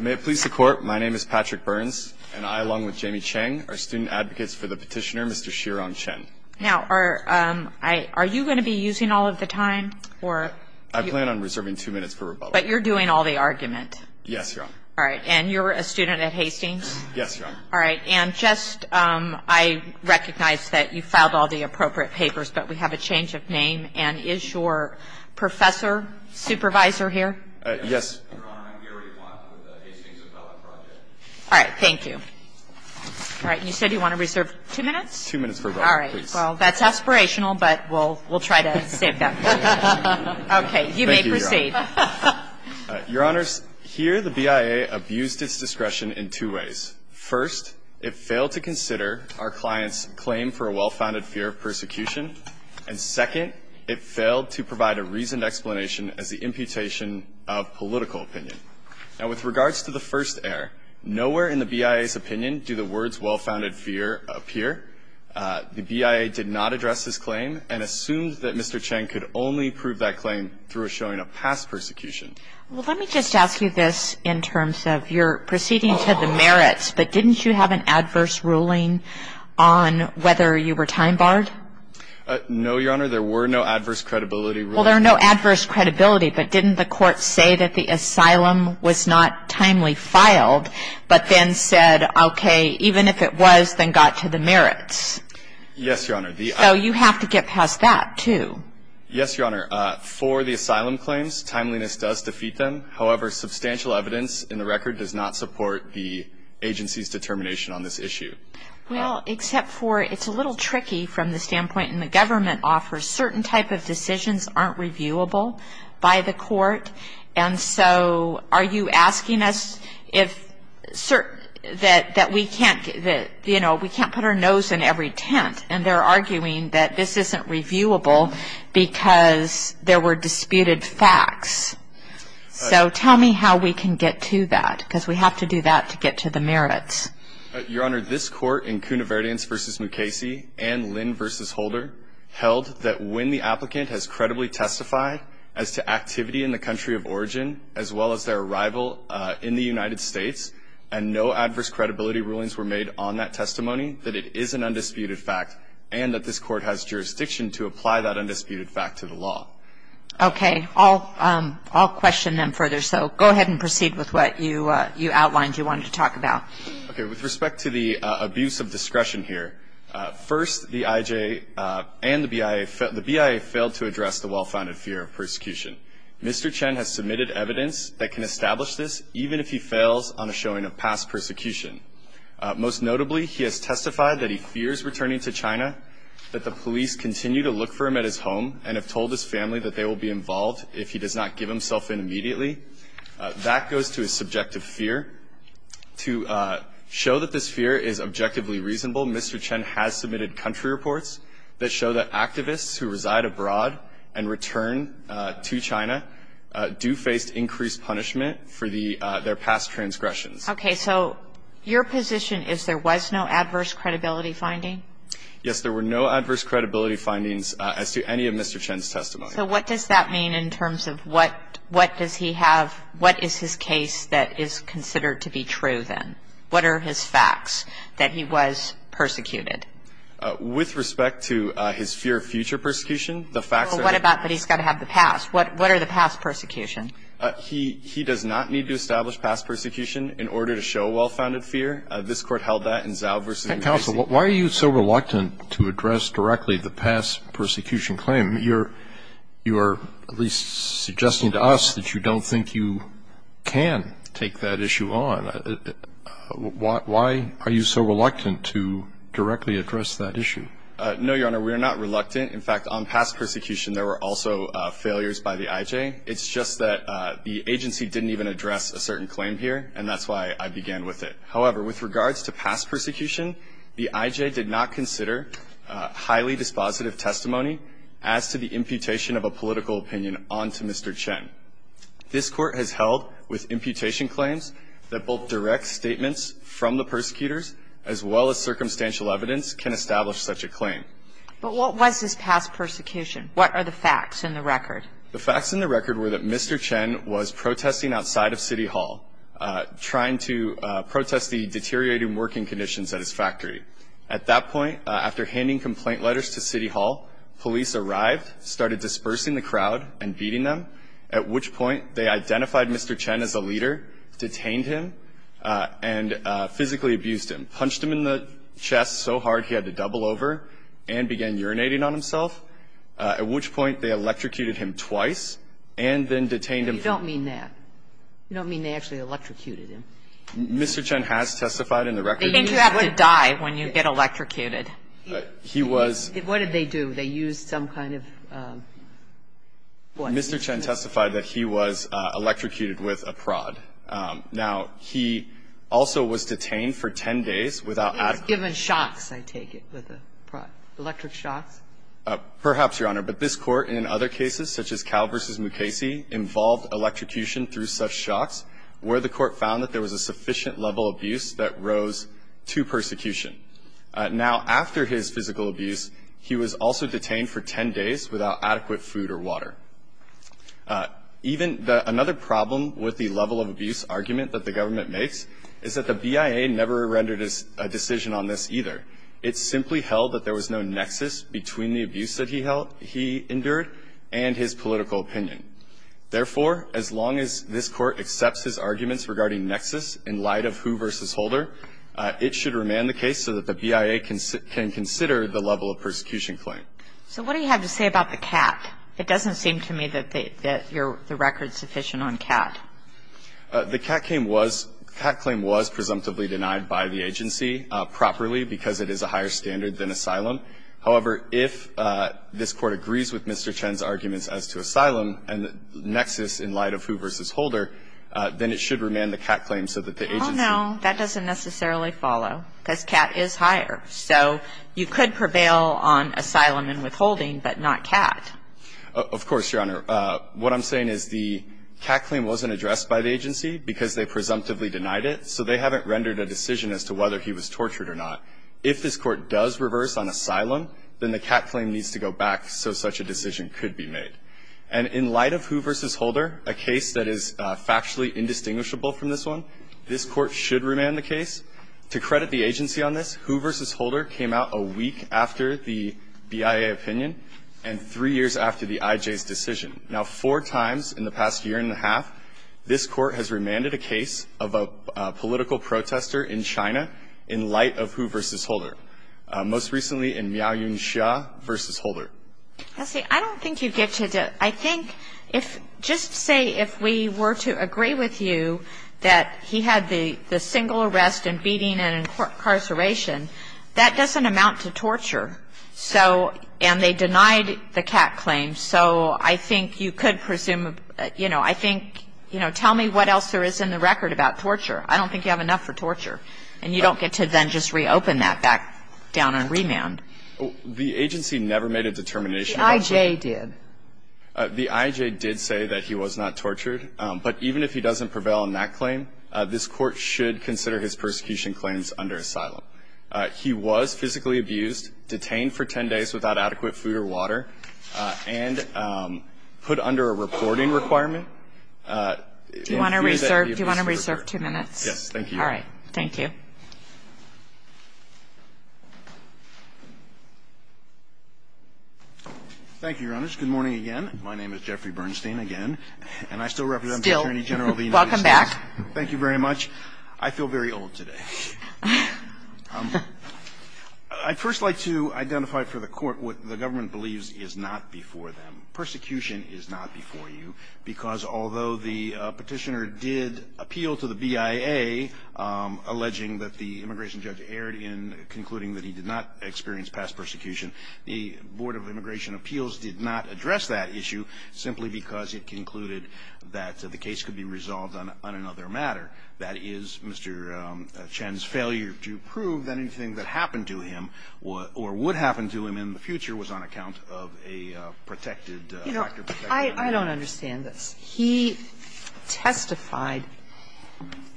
May it please the Court, my name is Patrick Burns, and I, along with Jamie Cheng, are student advocates for the petitioner, Mr. Shirong Chen. Now, are you going to be using all of the time, or? I plan on reserving two minutes for rebuttal. But you're doing all the argument? Yes, Your Honor. All right, and you're a student at Hastings? Yes, Your Honor. All right, and just, I recognize that you filed all the appropriate papers, but we have a change of name. And is your professor, supervisor here? Yes. All right, thank you. All right, and you said you want to reserve two minutes? Two minutes for rebuttal, please. All right. Well, that's aspirational, but we'll try to save that for later. Okay, you may proceed. Thank you, Your Honor. Your Honors, here the BIA abused its discretion in two ways. First, it failed to consider our client's claim for a well-founded fear of persecution. And second, it failed to provide a reasoned explanation as the imputation of political bias. Now, with regards to the first error, nowhere in the BIA's opinion do the words well-founded fear appear. The BIA did not address this claim and assumed that Mr. Cheng could only prove that claim through a showing of past persecution. Well, let me just ask you this in terms of your proceeding to the merits. But didn't you have an adverse ruling on whether you were time-barred? No, Your Honor, there were no adverse credibility rulings. Well, there are no adverse credibility, but didn't the court say that the asylum was not timely filed, but then said, okay, even if it was, then got to the merits? Yes, Your Honor. So you have to get past that, too. Yes, Your Honor. For the asylum claims, timeliness does defeat them. However, substantial evidence in the record does not support the agency's determination on this issue. Well, except for it's a little tricky from the standpoint certain type of decisions aren't reviewable by the court. And so are you asking us that we can't put our nose in every tent, and they're arguing that this isn't reviewable because there were disputed facts. So tell me how we can get to that, because we have to do that to get to the merits. Your Honor, this court in Kounoverdians v. Mukasey and Lynn v. Holder held that when the applicant has credibly testified as to activity in the country of origin, as well as their arrival in the United States, and no adverse credibility rulings were made on that testimony, that it is an undisputed fact, and that this court has jurisdiction to apply that undisputed fact to the law. Okay. I'll question them further. So go ahead and proceed with what you outlined you wanted to talk about. Okay. With respect to the abuse of discretion here, first, the IJ and the BIA failed to address the well-founded fear of persecution. Mr. Chen has submitted evidence that can establish this, even if he fails on a showing of past persecution. Most notably, he has testified that he fears returning to China, that the police continue to look for him at his home, and have told his family that they will be involved if he does not give himself in immediately. That goes to his subjective fear. To show that this fear is objectively reasonable, Mr. Chen has submitted country reports that show that activists who reside abroad and return to China do face increased punishment for their past transgressions. Okay. So your position is there was no adverse credibility finding? Yes. There were no adverse credibility findings as to any of Mr. Chen's testimony. So what does that mean in terms of what does he have, what is his case that is considered to be true then? What are his facts that he was persecuted? With respect to his fear of future persecution, the facts are that he's got to have the past. What are the past persecutions? He does not need to establish past persecution in order to show well-founded fear. This Court held that in Zhao v. McCasey. Counsel, why are you so reluctant to address directly the past persecution claim? You're at least suggesting to us that you don't think you can take that issue on. Why are you so reluctant to directly address that issue? No, Your Honor, we are not reluctant. In fact, on past persecution, there were also failures by the IJ. It's just that the agency didn't even address a certain claim here, and that's why I began with it. However, with regards to past persecution, the IJ did not consider highly dispositive testimony as to the imputation of a political opinion onto Mr. Chen. This Court has held with imputation claims that both direct statements from the persecutors as well as circumstantial evidence can establish such a claim. But what was his past persecution? What are the facts in the record? The facts in the record were that Mr. Chen was protesting outside of City Hall, trying to protest the deteriorating working conditions at his factory. At that point, after handing complaint letters to City Hall, police arrived, started dispersing the crowd and beating them, at which point they identified Mr. Chen as a leader, detained him, and physically abused him, punched him in the chest so hard he had to double over and began urinating on himself, at which point they electrocuted him twice and then detained him. You don't mean that. You don't mean they actually electrocuted him. Mr. Chen has testified in the record. They think you have to die when you get electrocuted. He was What did they do? They used some kind of what? Mr. Chen testified that he was electrocuted with a prod. Now, he also was detained for 10 days without adequate protection. He was given shocks, I take it, with a prod. Electric shocks? Perhaps, Your Honor, but this court, in other cases, such as Cal versus Mukasey, involved electrocution through such shocks where the court found that there was a sufficient level of abuse that rose to persecution. Now, after his physical abuse, he was also detained for 10 days without adequate food or water. Even another problem with the level of abuse argument that the government makes is that the BIA never rendered a decision on this either. It simply held that there was no nexus between the abuse that he endured and his political opinion. Therefore, as long as this court accepts his arguments regarding nexus in light of Hu versus Holder, it should remand the case so that the BIA can consider the level of persecution claim. So what do you have to say about the cat? It doesn't seem to me that you're the record sufficient on cat. The cat claim was presumptively denied by the agency properly because it is a higher standard than asylum. However, if this Court agrees with Mr. Chen's arguments as to asylum and nexus in light of Hu versus Holder, then it should remand the cat claim so that the agency can consider the level of persecution claim. Oh, no. That doesn't necessarily follow because cat is higher. So you could prevail on asylum and withholding but not cat. Of course, Your Honor. What I'm saying is the cat claim wasn't addressed by the agency because they presumptively denied it, so they haven't rendered a decision as to whether he was tortured or not. If this Court does reverse on asylum, then the cat claim needs to go back so such a decision could be made. And in light of Hu versus Holder, a case that is factually indistinguishable from this one, this Court should remand the case. To credit the agency on this, Hu versus Holder came out a week after the BIA opinion and three years after the IJ's decision. Now, four times in the past year and a half, this Court has remanded a case of a political protester in China in light of Hu versus Holder, most recently in Miao Yun-sha versus Holder. See, I don't think you get to the – I think if – just say if we were to agree with you that he had the single arrest and beating and incarceration, that doesn't amount to torture. So – and they denied the cat claim. So I think you could presume – you know, I think – you know, tell me what else there is in the record about torture. I don't think you have enough for torture. And you don't get to then just reopen that back down on remand. The agency never made a determination about torture. The IJ did. The IJ did say that he was not tortured. But even if he doesn't prevail on that claim, this Court should consider his persecution claims under asylum. He was physically abused, detained for 10 days without adequate food or water, and put under a reporting requirement. Do you want to reserve – do you want to reserve two minutes? Yes, thank you. All right. Thank you. Thank you, Your Honors. Good morning again. My name is Jeffrey Bernstein, again. And I still represent the Attorney General of the United States. Still. Welcome back. Thank you very much. I feel very old today. I'd first like to identify for the Court what the government believes is not before them. Persecution is not before you, because although the petitioner did appeal to the BIA, alleging that the immigration judge erred in concluding that he did not experience past persecution, the Board of Immigration Appeals did not address that issue, simply because it concluded that the case could be resolved on another matter. That is, Mr. Chen's failure to prove that anything that happened to him or would happen to him in the future was on account of a protected factor. You know, I don't understand this. He testified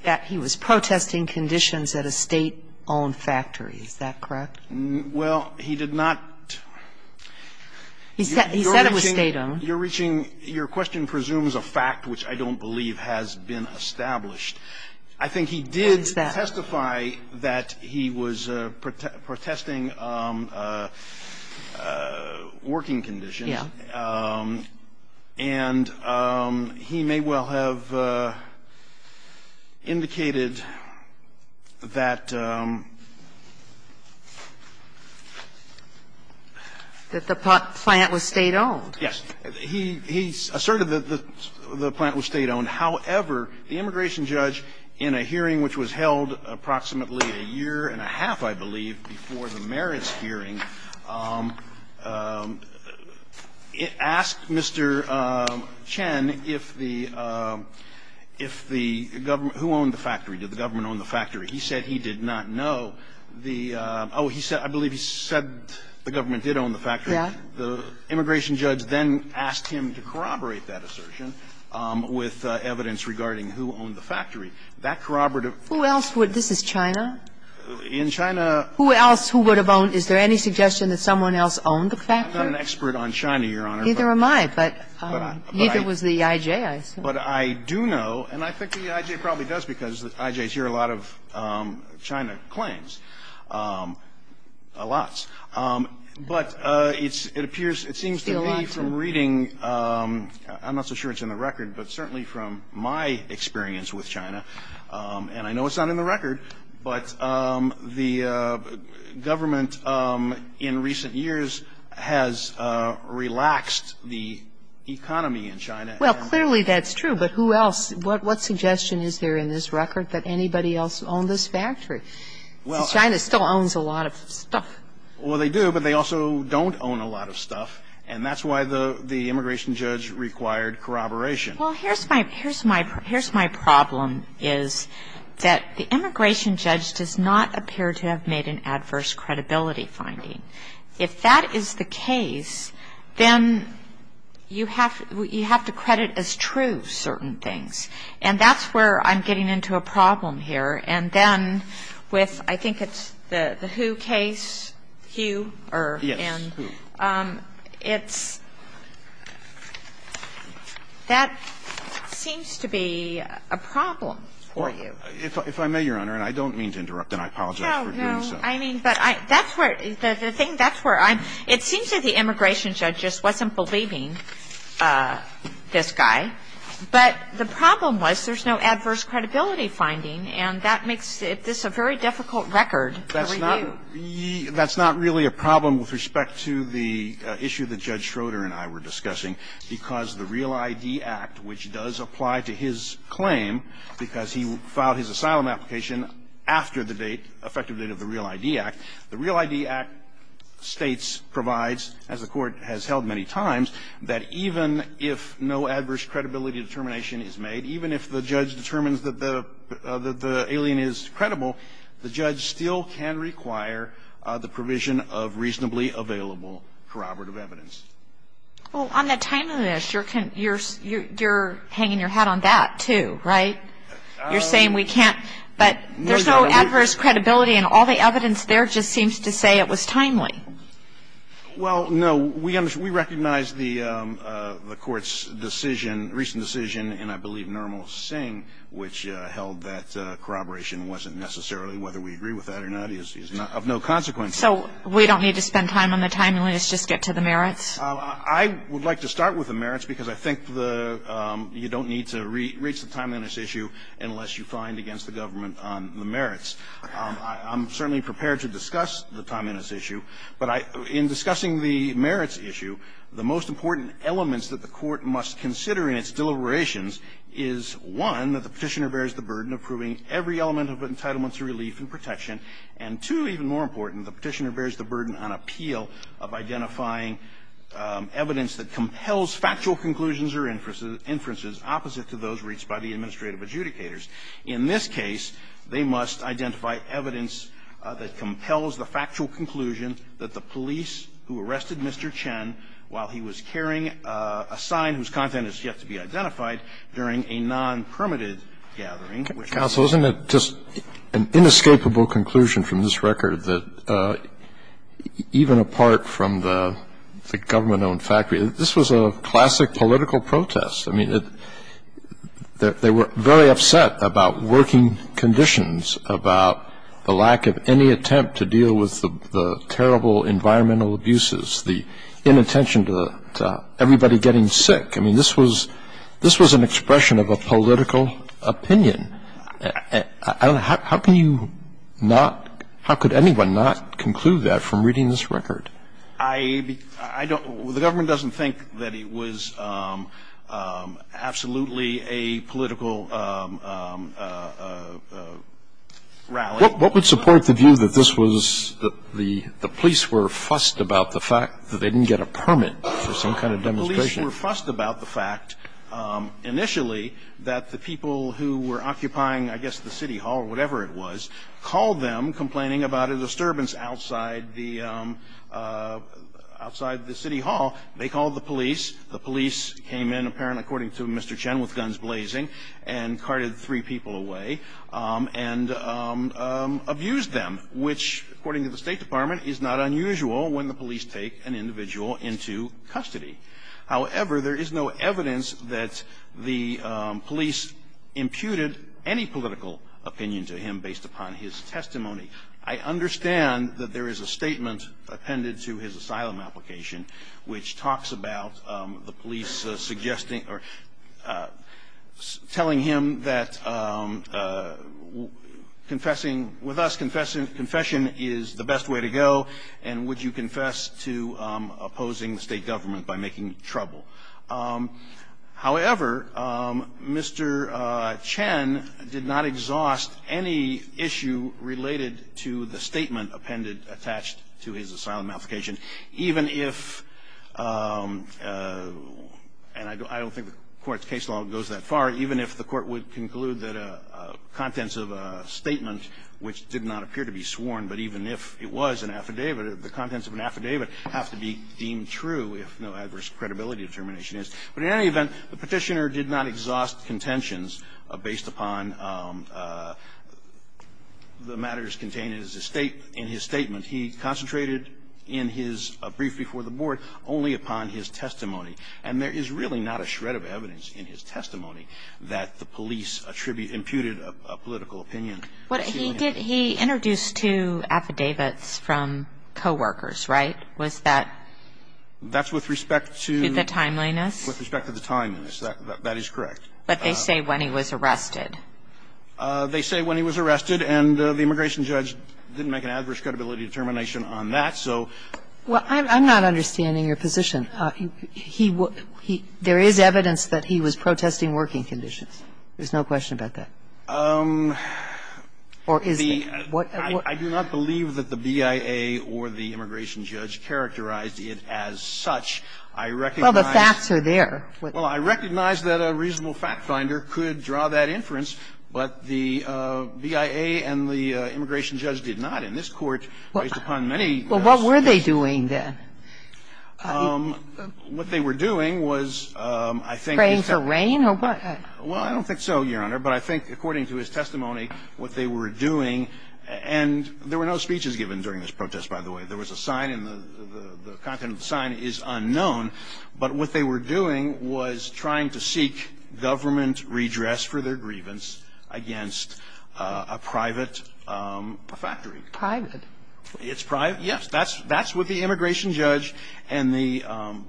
that he was protesting conditions at a State-owned factory. Is that correct? Well, he did not. He said it was State-owned. You're reaching – your question presumes a fact which I don't believe has been established. I think he did testify that he was protesting working conditions. Yeah. And he may well have indicated that the plant was State-owned. Yes. He asserted that the plant was State-owned. However, the immigration judge, in a hearing which was held approximately a year and a half, I believe, before the merits hearing, asked Mr. Chen if the – if the government – who owned the factory? Did the government own the factory? He said he did not know. The – oh, he said – I believe he said the government did own the factory. Yeah. And the immigration judge then asked him to corroborate that assertion with evidence regarding who owned the factory. That corroborative – Who else would? This is China. In China – Who else? Who would have owned? Is there any suggestion that someone else owned the factory? I'm not an expert on China, Your Honor. Neither am I. But either was the I.J., I assume. But I do know, and I think the I.J. probably does because the I.J.s hear a lot of China claims, a lot. But it's – it appears – it seems to me from reading – I'm not so sure it's in the record, but certainly from my experience with China, and I know it's not in the record, but the government in recent years has relaxed the economy in China and – Well, clearly that's true. But who else – what suggestion is there in this record that anybody else owned this factory? China still owns a lot of stuff. Well, they do, but they also don't own a lot of stuff. And that's why the immigration judge required corroboration. Well, here's my – here's my problem is that the immigration judge does not appear to have made an adverse credibility finding. If that is the case, then you have to credit as true certain things. And that's where I'm getting into a problem here. And then with – I think it's the Hu case, Hu or Hin. Yes, Hu. It's – that seems to be a problem for you. Well, if I may, Your Honor, and I don't mean to interrupt, and I apologize for doing so. No, no. I mean, but I – that's where – the thing – that's where I'm – it seems that the immigration judge just wasn't believing this guy. But the problem was there's no adverse credibility finding, and that makes this a very difficult record to review. That's not – that's not really a problem with respect to the issue that Judge Schroeder and I were discussing, because the Real ID Act, which does apply to his claim because he filed his asylum application after the date, effective date of the Real ID Act. The Real ID Act states, provides, as the Court has held many times, that even if no adverse credibility determination is made, even if the judge determines that the alien is credible, the judge still can require the provision of reasonably available corroborative evidence. Well, on the time of this, you're hanging your hat on that, too, right? You're saying we can't – but there's no adverse credibility, and all the evidence there just seems to say it was timely. Well, no. We recognize the Court's decision, recent decision in, I believe, Nirmal Singh, which held that corroboration wasn't necessarily, whether we agree with that or not, is of no consequence. So we don't need to spend time on the timeliness, just get to the merits? I would like to start with the merits, because I think the – you don't need to reach I'm certainly prepared to discuss the timeliness issue, but I – in discussing the merits issue, the most important elements that the Court must consider in its deliberations is, one, that the Petitioner bears the burden of proving every element of entitlement to relief and protection, and, two, even more important, the Petitioner bears the burden on appeal of identifying evidence that compels factual conclusions or inferences opposite to those reached by the administrative adjudicators. In this case, they must identify evidence that compels the factual conclusion that the police who arrested Mr. Chen while he was carrying a sign whose content is yet to be identified during a non-permitted gathering, which was – Counsel, isn't it just an inescapable conclusion from this record that even apart from the government-owned factory, this was a classic political protest? I mean, they were very upset about working conditions, about the lack of any attempt to deal with the terrible environmental abuses, the inattention to everybody getting sick. I mean, this was – this was an expression of a political opinion. How can you not – how could anyone not conclude that from reading this record? I don't – the government doesn't think that it was absolutely a political rally. What would support the view that this was – that the police were fussed about the fact that they didn't get a permit for some kind of demonstration? The police were fussed about the fact, initially, that the people who were occupying, I guess, the city hall or whatever it was, called them complaining about a disturbance outside the – outside the city hall. They called the police. The police came in, apparently, according to Mr. Chen, with guns blazing, and carted three people away and abused them, which, according to the State Department, is not unusual when the police take an individual into custody. However, there is no evidence that the police imputed any political opinion to him based upon his testimony. I understand that there is a statement appended to his asylum application which talks about the police suggesting – or telling him that confessing with us, confession is the best way to go, and would you confess to opposing the State government by making trouble. However, Mr. Chen did not exhaust any issue related to the statement appended attached to his asylum application, even if – and I don't think the Court's case law goes that far – even if the Court would conclude that contents of a statement which did not appear to be sworn, but even if it was an affidavit, the contents of an affidavit have to be deemed true if no adverse credibility determination is. But in any event, the Petitioner did not exhaust contentions based upon the matters contained in his statement. He concentrated in his brief before the Board only upon his testimony, and there is really not a shred of evidence in his testimony that the police attribute – imputed a political opinion to him. But he did – he introduced two affidavits from coworkers, right? Was that? That's with respect to the timeliness? With respect to the timeliness. That is correct. But they say when he was arrested. They say when he was arrested, and the immigration judge didn't make an adverse credibility determination on that, so. Well, I'm not understanding your position. He – there is evidence that he was protesting working conditions. There's no question about that. Or is there? I do not believe that the BIA or the immigration judge characterized it as such. I recognize. Well, the facts are there. Well, I recognize that a reasonable factfinder could draw that inference, but the BIA and the immigration judge did not. In this Court, based upon many – Well, what were they doing then? What they were doing was, I think – Praying for rain or what? Well, I don't think so, Your Honor, but I think according to his testimony what they were doing – and there were no speeches given during this protest, by the way. There was a sign, and the content of the sign is unknown, but what they were doing was trying to seek government redress for their grievance against a private factory. Private? It's private, yes. That's what the immigration judge and the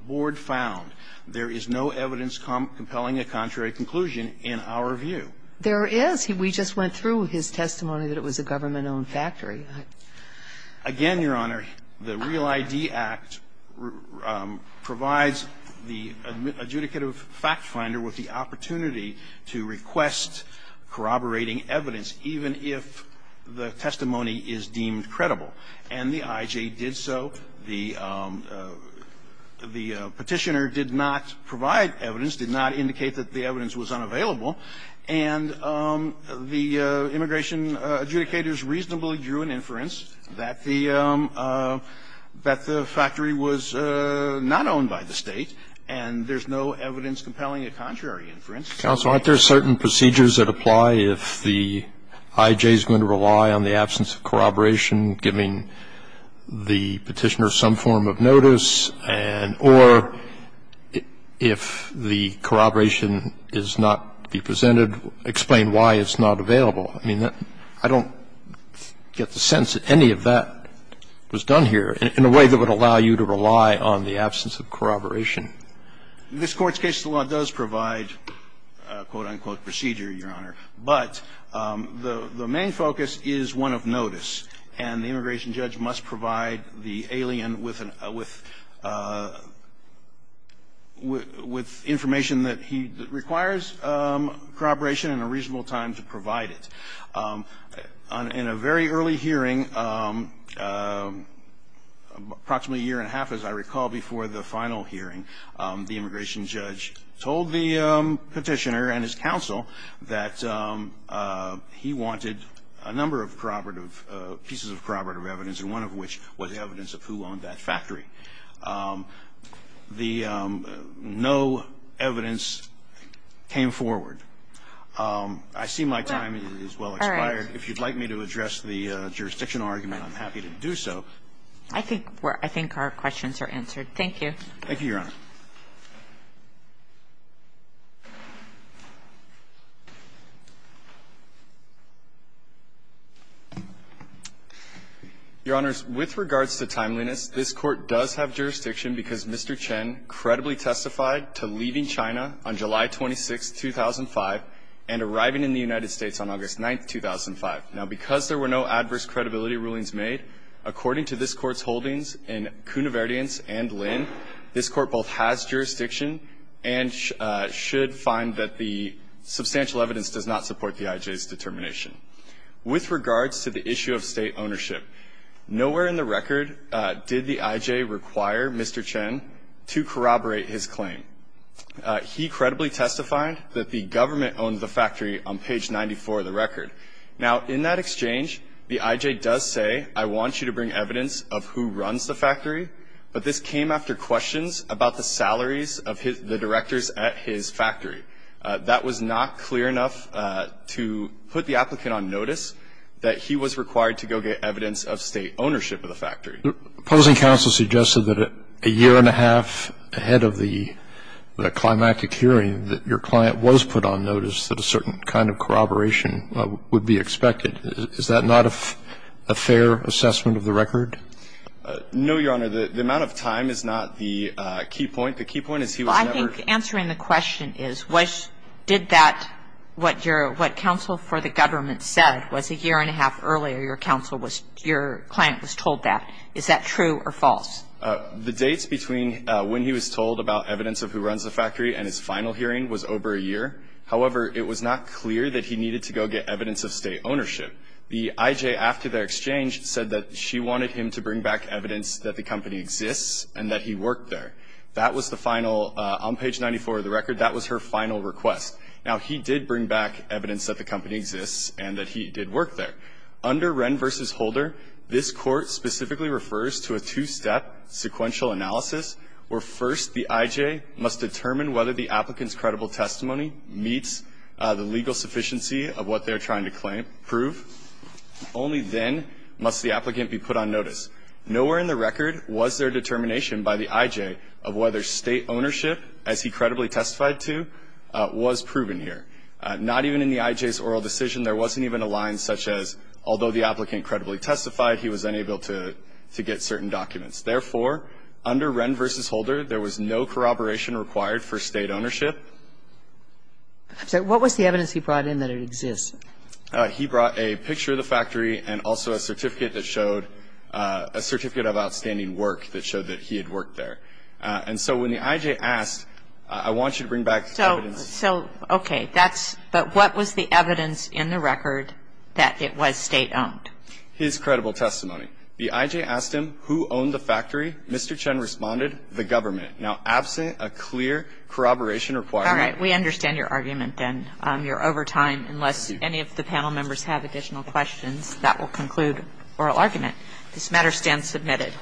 board found. There is no evidence compelling a contrary conclusion in our view. There is. We just went through his testimony that it was a government-owned factory. Again, Your Honor, the Real ID Act provides the adjudicative factfinder with the opportunity to request corroborating evidence, even if the testimony is deemed credible, and the IJ did so. The petitioner did not provide evidence, did not indicate that the evidence was unavailable, and the immigration adjudicators reasonably drew an inference that the factory was not owned by the State, and there's no evidence compelling a contrary inference. Counsel, aren't there certain procedures that apply if the IJ is going to rely on the absence of corroboration, giving the petitioner some form of notice, and or if the corroboration is not to be presented, explain why it's not available. I mean, I don't get the sense that any of that was done here in a way that would allow you to rely on the absence of corroboration. This Court's case law does provide a quote-unquote procedure, Your Honor. But the main focus is one of notice, and the immigration judge must provide the alien with information that he requires corroboration and a reasonable time to provide it. In a very early hearing, approximately a year and a half, as I recall, before the final hearing, the immigration judge told the petitioner and his counsel that he wanted a number of corroborative, pieces of corroborative evidence, and one of which was evidence of who owned that factory. No evidence came forward. I see my time has well expired. If you'd like me to address the jurisdictional argument, I'm happy to do so. I think our questions are answered. Thank you. Thank you, Your Honor. Your Honors, with regards to timeliness, this Court does have jurisdiction because Mr. Chen credibly testified to leaving China on July 26, 2005, and arriving in the United States on August 9, 2005. Now, because there were no adverse credibility rulings made, according to this Court's holdings in Cunaverdiens and Lin, this Court both has jurisdiction and should find that the substantial evidence does not support the I.J.'s determination. With regards to the issue of state ownership, nowhere in the record did the I.J. require Mr. Chen to corroborate his claim. He credibly testified that the government owned the factory on page 94 of the record. Now, in that exchange, the I.J. does say, I want you to bring evidence of who runs the factory, but this came after questions about the salaries of the directors at his factory. That was not clear enough to put the applicant on notice that he was required to go get evidence of state ownership of the factory. The opposing counsel suggested that a year and a half ahead of the climactic hearing, that your client was put on notice that a certain kind of corroboration would be expected. Is that not a fair assessment of the record? No, Your Honor. The amount of time is not the key point. The key point is he was never ---- Well, I think answering the question is did that, what your ---- what counsel for the government said was a year and a half earlier your counsel was ---- your client was told that. Is that true or false? The dates between when he was told about evidence of who runs the factory and his final hearing was over a year. However, it was not clear that he needed to go get evidence of state ownership. The I.J., after their exchange, said that she wanted him to bring back evidence that the company exists and that he worked there. That was the final, on page 94 of the record, that was her final request. Now, he did bring back evidence that the company exists and that he did work there. Under Wren v. Holder, this court specifically refers to a two-step sequential analysis where first the I.J. must determine whether the applicant's credible testimony meets the legal sufficiency of what they're trying to prove. Only then must the applicant be put on notice. Nowhere in the record was there determination by the I.J. of whether state ownership, as he credibly testified to, was proven here. Not even in the I.J.'s oral decision, there wasn't even a line such as, although the applicant credibly testified, he was unable to get certain documents. Therefore, under Wren v. Holder, there was no corroboration required for state ownership. I'm sorry. What was the evidence he brought in that it exists? He brought a picture of the factory and also a certificate that showed, a certificate of outstanding work that showed that he had worked there. And so when the I.J. asked, I want you to bring back evidence. So, okay. That's, but what was the evidence in the record that it was state-owned? His credible testimony. The I.J. asked him, who owned the factory? Mr. Chen responded, the government. Now, absent a clear corroboration requirement. All right. We understand your argument, then. You're over time. Unless any of the panel members have additional questions, that will conclude oral argument. This matter stands submitted.